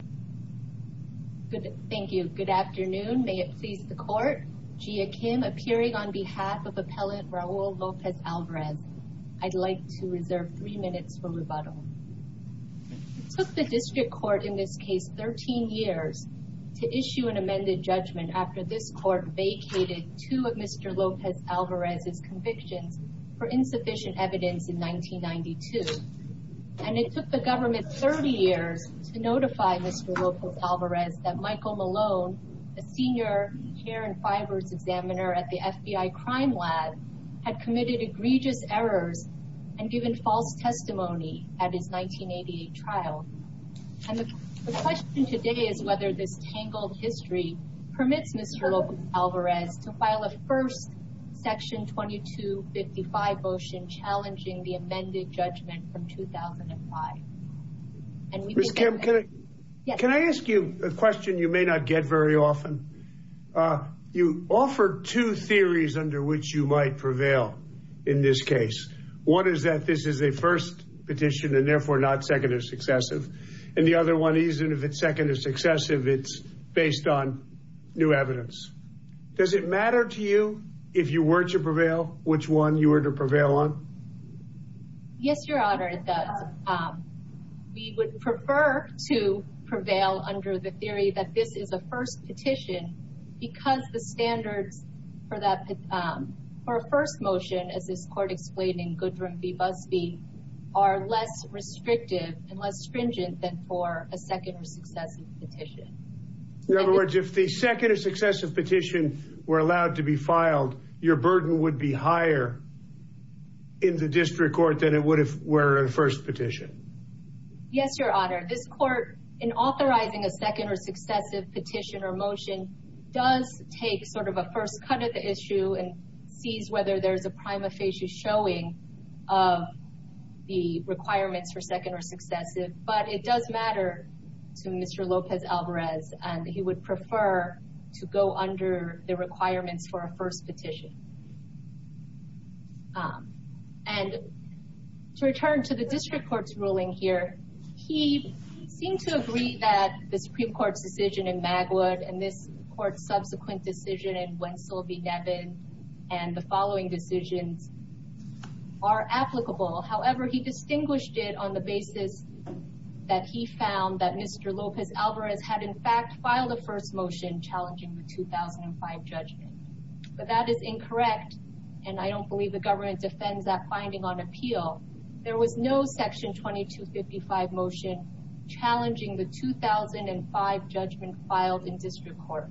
It took the District Court in this case 13 years to issue an amended judgment after this court vacated two of Mr. Lopez-Alvarez's convictions for insufficient evidence in 1992, and it that Michael Malone, a senior hair and fibers examiner at the FBI Crime Lab, had committed egregious errors and given false testimony at his 1988 trial. The question today is whether this tangled history permits Mr. Lopez-Alvarez to file a first section 2255 motion challenging the amended judgment from 2005. Mr. Kim, can I ask you a question you may not get very often? You offered two theories under which you might prevail in this case. One is that this is a first petition and therefore not second or successive, and the other one is if it's second or successive, it's based on new evidence. Does it matter to you if you were to prevail, which one you were to Yes, Your Honor, it does. We would prefer to prevail under the theory that this is a first petition because the standards for a first motion, as this court explained in Goodwin v. Busby, are less restrictive and less stringent than for a second or successive petition. In other words, if the second or successive petition were allowed to be filed, your burden would be higher in the district court than it would if it were a first petition. Yes, Your Honor. This court, in authorizing a second or successive petition or motion, does take sort of a first cut at the issue and sees whether there's a prima facie showing of the requirements for second or successive, but it does matter to Mr. Lopez-Alvarez, and he would prefer to go under the requirements for a first petition. And to return to the district court's ruling here, he seemed to agree that the Supreme Court's decision in Magwood and this court's subsequent decision in Wentzell v. Devin and the following decisions are applicable. However, he distinguished it on the basis that he found that Mr. Lopez-Alvarez had in fact filed a first motion challenging the 2005 judgment. But that is incorrect, and I don't believe the government defends that finding on appeal. There was no section 2255 motion challenging the 2005 judgment filed in district court.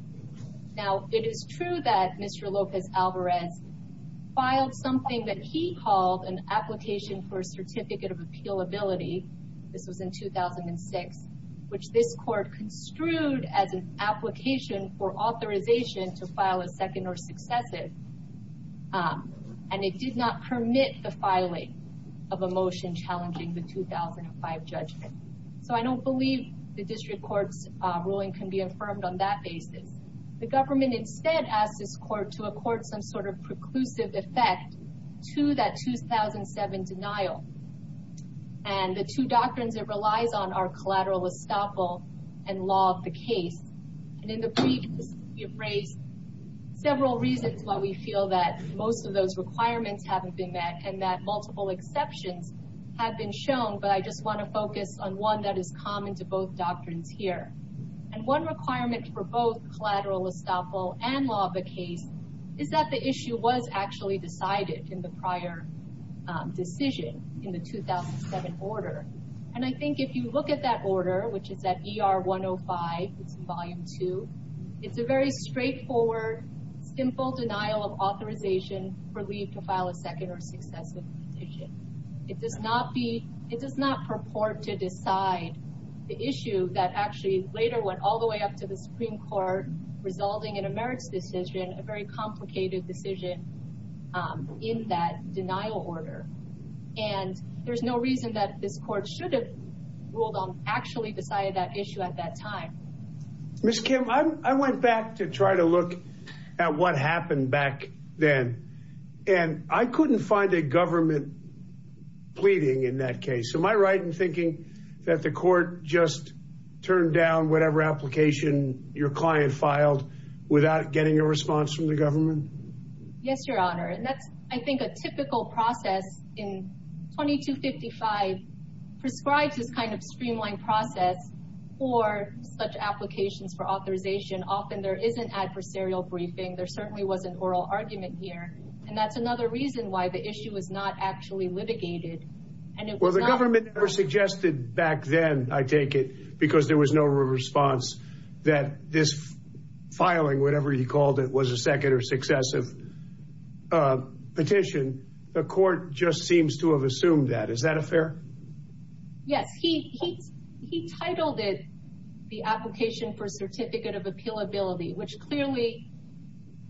Now, it is true that Mr. Lopez-Alvarez filed something that he called an application for which this court construed as an application for authorization to file a second or successive, and it did not permit the filing of a motion challenging the 2005 judgment. So I don't believe the district court's ruling can be affirmed on that basis. The government instead asked this court to accord some sort of preclusive effect to that 2007 denial, and the two doctrines it relies on are collateral estoppel and law of the case. And in the brief, we have raised several reasons why we feel that most of those requirements haven't been met and that multiple exceptions have been shown, but I just want to focus on one that is common to both doctrines here. And one requirement for both collateral estoppel and law of the case is that the issue was actually decided in the prior decision in the 2007 order. And I think if you look at that order, which is at ER 105, it's in volume two, it's a very straightforward, simple denial of authorization for leave to file a second or successive petition. It does not purport to decide the issue that actually later went all the way up to the Supreme Court, resulting in a merits decision, a very complicated decision in that denial order. And there's no reason that this court should have ruled on actually decided that issue at that time. Miss Kim, I went back to try to look at what happened back then. And I couldn't find a government pleading in that case. Am I right in thinking that the court just turned down whatever application your client filed without getting a response from the government? Yes, Your Honor. And that's, I think, a typical process in 2255 prescribes this kind of streamlined process for such applications for authorization. Often there isn't adversarial briefing, there certainly wasn't oral argument here. And that's another reason why the issue was not actually litigated. Well, the government never suggested back then, I take it, because there was no response that this filing, whatever you called it, was a second or successive petition. The court just seems to have assumed that. Is that a fair? Yes, he titled it the Application for Certificate of Appealability, which clearly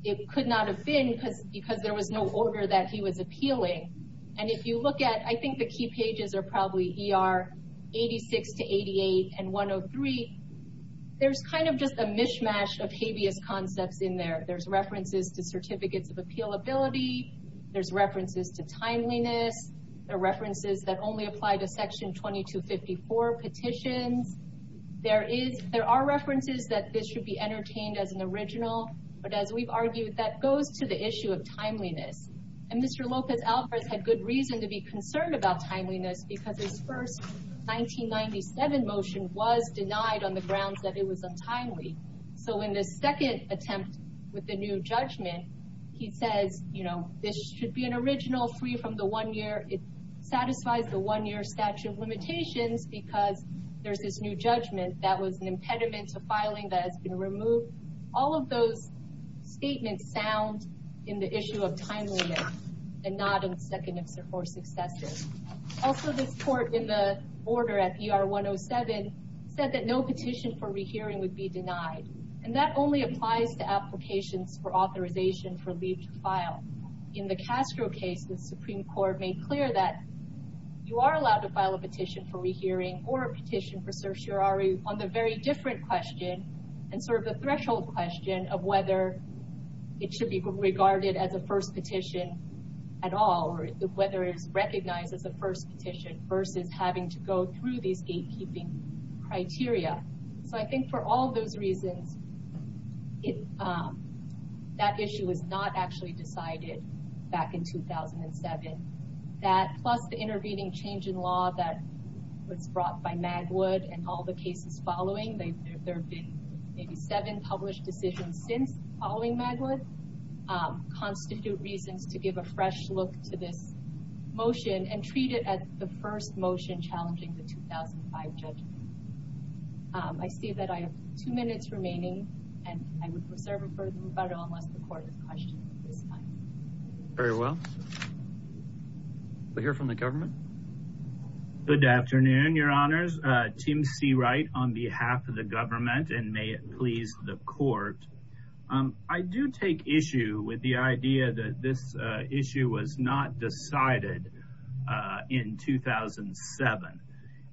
it could not have because there was no order that he was appealing. And if you look at, I think the key pages are probably ER 86 to 88 and 103. There's kind of just a mishmash of habeas concepts in there. There's references to Certificates of Appealability. There's references to timeliness. There are references that only apply to Section 2254 petitions. There are references that this should be entertained as an original. But as we've argued, that goes to the issue of timeliness. And Mr. Lopez Alvarez had good reason to be concerned about timeliness because his first 1997 motion was denied on the grounds that it was untimely. So in this second attempt with the new judgment, he says, you know, this should be an original free from the one-year. It satisfies the one-year statute of limitations because there's this new judgment that was an impediment to filing that has been removed. All of those statements sound in the issue of timeliness and not in the second or successive. Also, this court in the order at ER 107 said that no petition for rehearing would be denied. And that only applies to applications for authorization for leave to file. In the Castro case, the Supreme Court made clear that you are allowed to file a petition for rehearing or a threshold question of whether it should be regarded as a first petition at all or whether it is recognized as a first petition versus having to go through these gatekeeping criteria. So I think for all those reasons, that issue was not actually decided back in 2007. That plus the intervening change in law that was brought by Magwood and all the cases following, there have been seven published decisions since following Magwood constitute reasons to give a fresh look to this motion and treat it as the first motion challenging the 2005 judgment. I see that I have two minutes remaining and I would reserve it for Roberto unless the court has questions at this time. Very well. We'll hear from the government. Good afternoon, your honors. Tim Seawright on behalf of the government and may it please the court. I do take issue with the idea that this issue was not decided in 2007.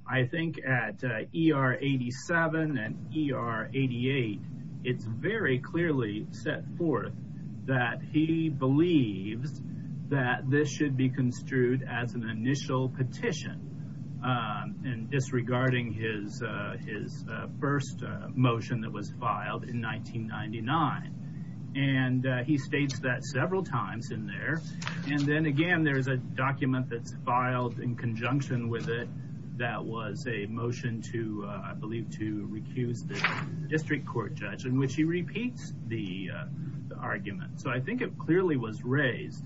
I think at ER 87 and ER 88, it's very clearly set forth that he believes that this should be construed as an initial petition disregarding his first motion that was filed in 1999. And he states that several times in there. And then again, there's a document that's filed in conjunction with it that was a motion to, I believe, to recuse the argument. So I think it clearly was raised.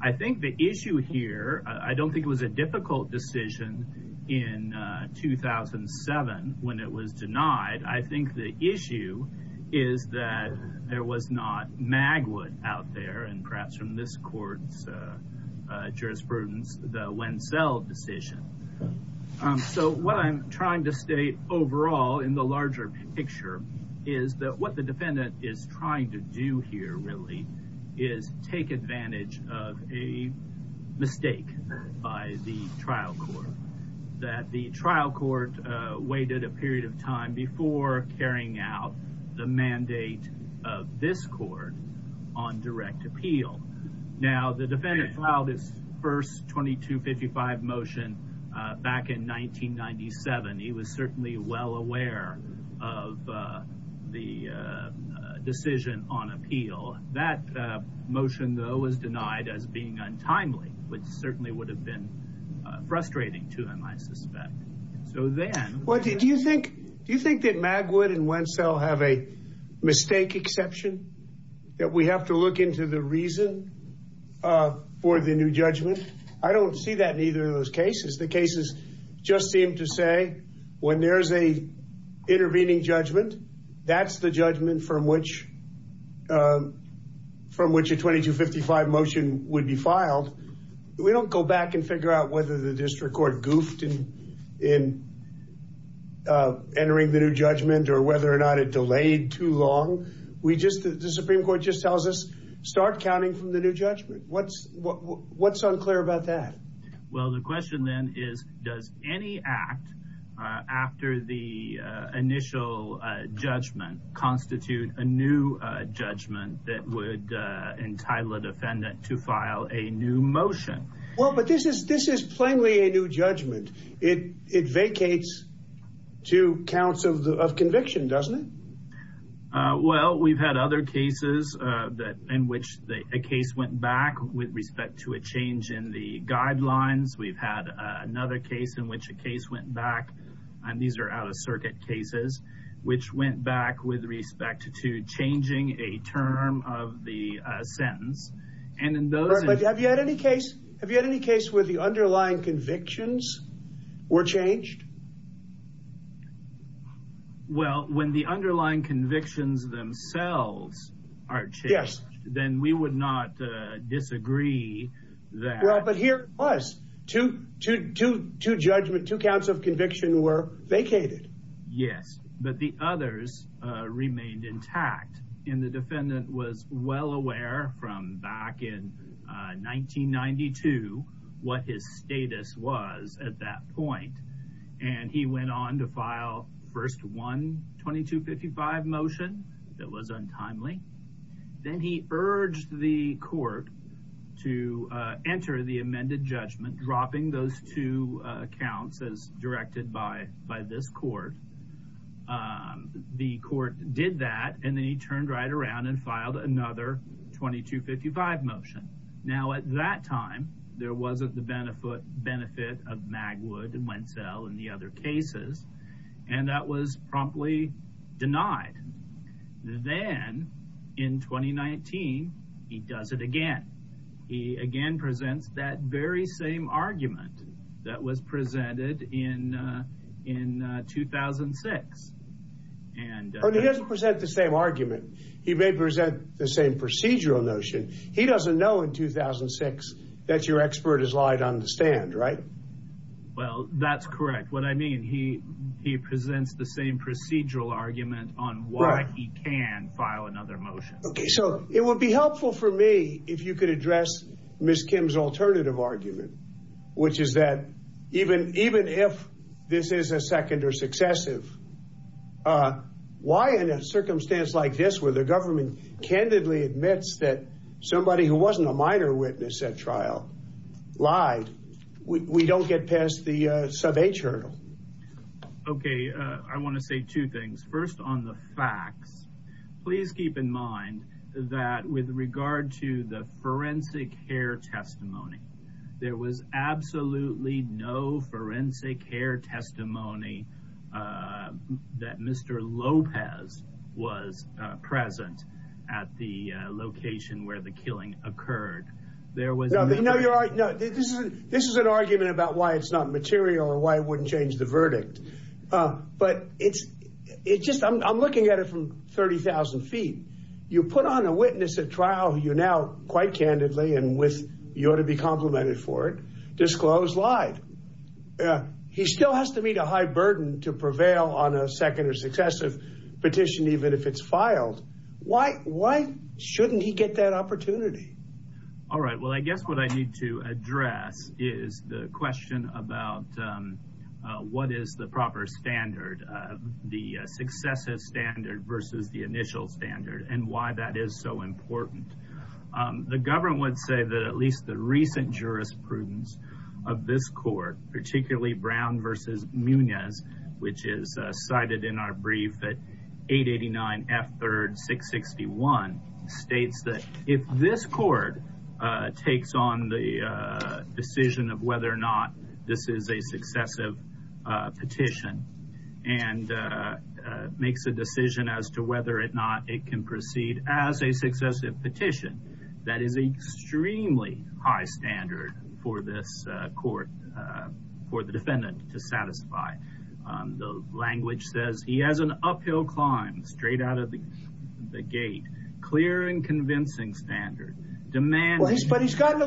I think the issue here, I don't think it was a difficult decision in 2007 when it was denied. I think the issue is that there was not Magwood out there and perhaps from this court's jurisprudence, the Wenzel decision. So what I'm trying to state overall in the larger picture is that what the defendant is trying to do here really is take advantage of a mistake by the trial court. That the trial court waited a period of time before carrying out the mandate of this court on direct appeal. Now the defendant filed his first 2255 motion back in 1997. He was certainly well aware of the decision on appeal. That motion, though, was denied as being untimely, which certainly would have been frustrating to him, I suspect. So then... Well, do you think that Magwood and Wenzel have a mistake exception? That we have to look into the reason for the new judgment? I don't see that in either of those cases. The cases just seem to say when there's an intervening judgment, that's the judgment from which a 2255 motion would be filed. We don't go back and figure out whether the district court goofed in entering the new judgment or whether or not it delayed too long. The Supreme Court just tells us start counting from the new judgment. What's unclear about that? Well, the question then is, does any act after the initial judgment constitute a new judgment that would entitle a defendant to file a new motion? Well, but this is plainly a new judgment. It vacates two counts of conviction, doesn't it? Well, we've had other cases in which a case went back with respect to a change in the guidelines. We've had another case in which a case went back, and these are out-of-circuit cases, which went back with respect to changing a term of the sentence. And in those... But have you had any case where the underlying convictions were changed? Well, when the underlying convictions themselves are changed, then we would not disagree that... Well, but here it was. Two judgment, two counts of conviction were vacated. Yes, but the others remained intact, and the defendant was well aware from back in 1992 what his status was at that point. And he went on to file first one 2255 motion that was untimely. Then he urged the court to enter the amended judgment, dropping those two counts as directed by this court. The court did that, and then he turned right around and filed another 2255 motion. Now, at that time, there wasn't the benefit of Magwood and Wenzel and the other cases, and that was promptly denied. Then, in 2019, he does it again. He again presents that very same argument that was presented in 2006. And... But he doesn't present the same argument. He may present the same procedural notion. He doesn't know in 2006 that your expert is lying on the stand, right? Well, that's correct. What I mean, he presents the same procedural argument on why he can file another motion. Okay, so it would be helpful for me if you could address Ms. Kim's alternative argument, which is that even if this is a second or successive, why in a circumstance like this, where the government candidly admits that somebody who wasn't a minor witness at trial lied, we don't get past the sub-H hurdle? Okay, I want to say two things. First, on the facts, please keep in mind that with regard to the forensic hair testimony, there was absolutely no forensic hair testimony that Mr. Lopez was present at the location where the killing occurred. There was... No, you're right. This is an argument about why it's not material or why it wouldn't change the verdict. But it's just... I'm looking at it from 30,000 feet. You put on a witness at trial who you now, quite candidly, and you ought to be complimented for it, disclosed lied. He still has to meet a high burden to prevail on a second or successive petition, even if it's filed. Why shouldn't he get that opportunity? All right. Well, I guess what I need to address is the question about what is the proper standard, the successive standard versus the initial standard, and why that is so important. The government would say that at least the recent jurisprudence of this court, particularly Brown versus Munoz, which is cited in our brief at 889 F3 661, states that if this court takes on the decision of whether or not this is a successive petition and makes a decision as to whether or not it can proceed as a successive petition, that is an extremely high standard for this court, for the defendant to satisfy. The language says he has an uphill climb straight out of the gate, clear and convincing standard. But he's gotten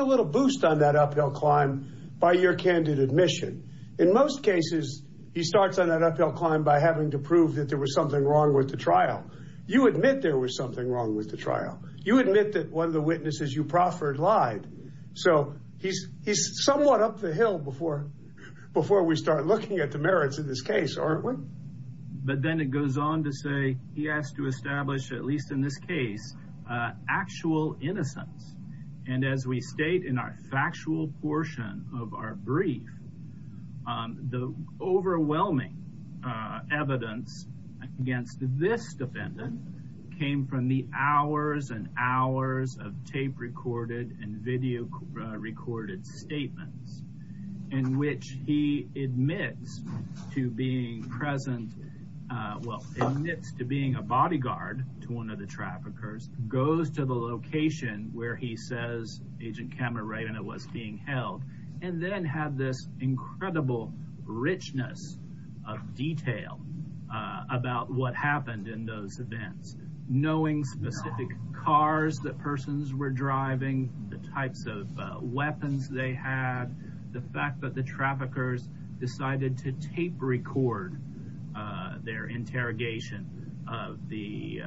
a little boost on that uphill climb by your candid admission. In most cases, he starts on that uphill climb by having to prove that there was something wrong with the trial. You admit there was something wrong with the trial. You admit that one of the witnesses you proffered lied. So he's somewhat up the hill before we start looking at the merits of this case, aren't we? But then it goes on to say he has to establish at least in this case actual innocence. And as we state in our factual portion of our brief, the overwhelming evidence against this defendant came from the hours and hours of tape recorded and video recorded statements in which he admits to being a bodyguard to one of the traffickers, goes to the location where he says Agent Cameron Ravenna was being held, and then had this incredible richness of detail about what happened in those events. Knowing specific cars that persons were driving, the types of weapons they had, the fact that the traffickers decided to tape record their interrogation of the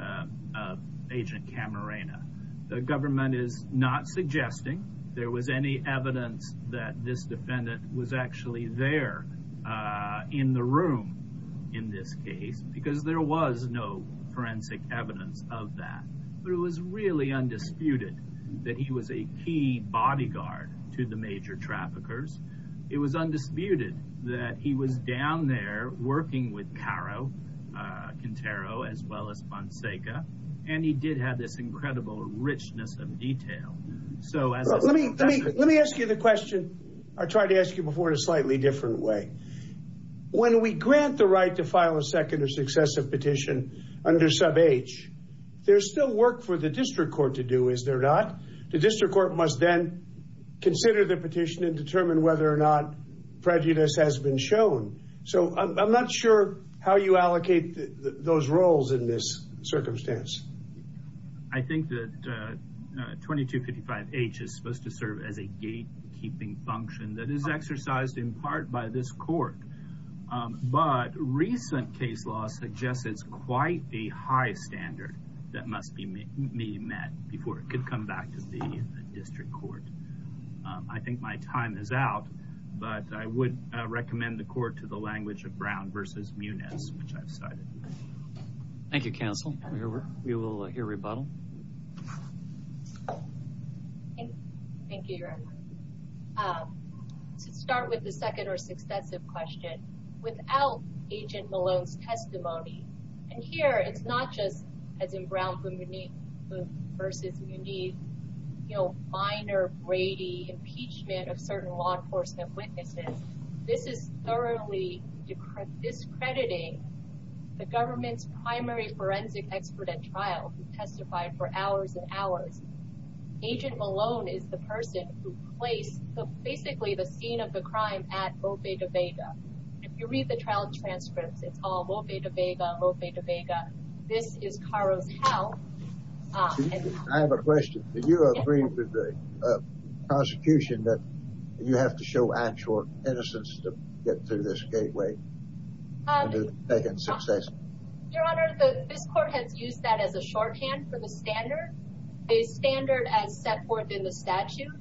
Agent Cameron Ravenna. The government is not suggesting there was any evidence that this defendant was actually there in the room in this case, because there was no forensic evidence of that. But it was really undisputed that he was a key bodyguard to the major traffickers. It was undisputed that he was down there working with Caro, Quintero, as well as Fonseca. And he did have this incredible richness of detail. So let me let me let me ask you the question. I tried to ask you before in a slightly different way. When we grant the right to file a second or successive petition under sub H, there's still work for the district court to do, is there not? The district court must then consider the petition and determine whether or not prejudice has been shown. So I'm not sure how you allocate those roles in this circumstance. I think that 2255 H is supposed to serve as a keeping function that is exercised in part by this court. But recent case law suggests it's quite a high standard that must be met before it could come back to the district court. I think my time is out, but I would recommend the court to the language of Brown versus Muniz, which I've cited. Thank you, counsel. We will hear rebuttal. Thank you very much. To start with the second or successive question, without Agent Malone's testimony, and here it's not just as in Brown versus Muniz, you know, minor Brady impeachment of certain law enforcement witnesses. This is thoroughly discrediting the government's expert at trial who testified for hours and hours. Agent Malone is the person who placed basically the scene of the crime at Moffay to Vega. If you read the trial transcripts, it's all Moffay to Vega, Moffay to Vega. This is Caro's house. I have a question. Do you agree with the prosecution that you have to show actual innocence to get through this gateway? Your Honor, this court has used that as a shorthand for the standard. The standard as set forth in the statute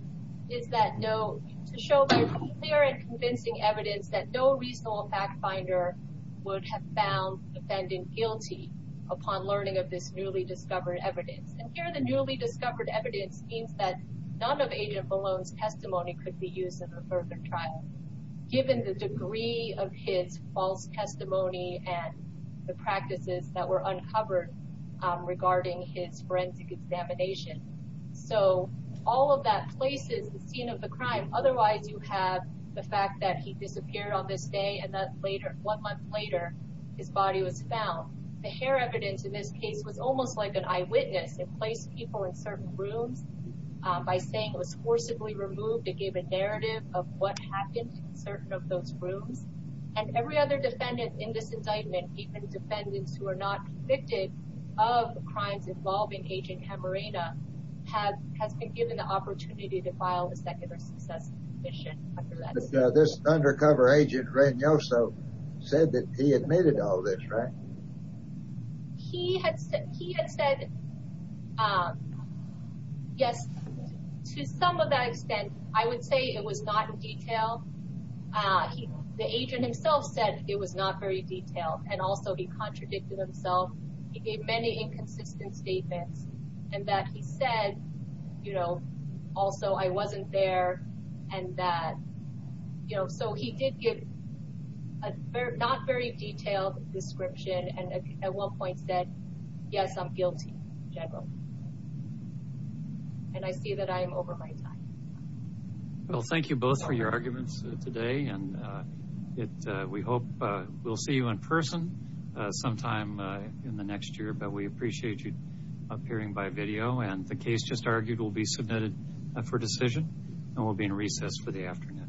is to show clear and convincing evidence that no reasonable fact finder would have found the defendant guilty upon learning of this newly discovered evidence. And here the newly discovered evidence means that none of Agent Malone's given the degree of his false testimony and the practices that were uncovered regarding his forensic examination. So all of that places the scene of the crime. Otherwise, you have the fact that he disappeared on this day and that later, one month later, his body was found. The hair evidence in this case was almost like an eyewitness. It placed people in certain rooms by saying it was forcibly removed. It gave a narrative of what happened in certain of those rooms. And every other defendant in this indictment, even defendants who are not convicted of the crimes involving Agent Hamerina, has been given the opportunity to file a secular success petition. This undercover agent, Reynoso, said that he admitted all this, right? And he had said, yes, to some of that extent, I would say it was not in detail. The agent himself said it was not very detailed and also he contradicted himself. He gave many inconsistent statements and that he said, you know, also I wasn't there and that, you know, he did give a not very detailed description and at one point said, yes, I'm guilty in general. And I see that I am over my time. Well, thank you both for your arguments today and we hope we'll see you in person sometime in the next year. But we appreciate you appearing by video and the case just argued will be submitted for decision and will be in recess for the afternoon. Thank you.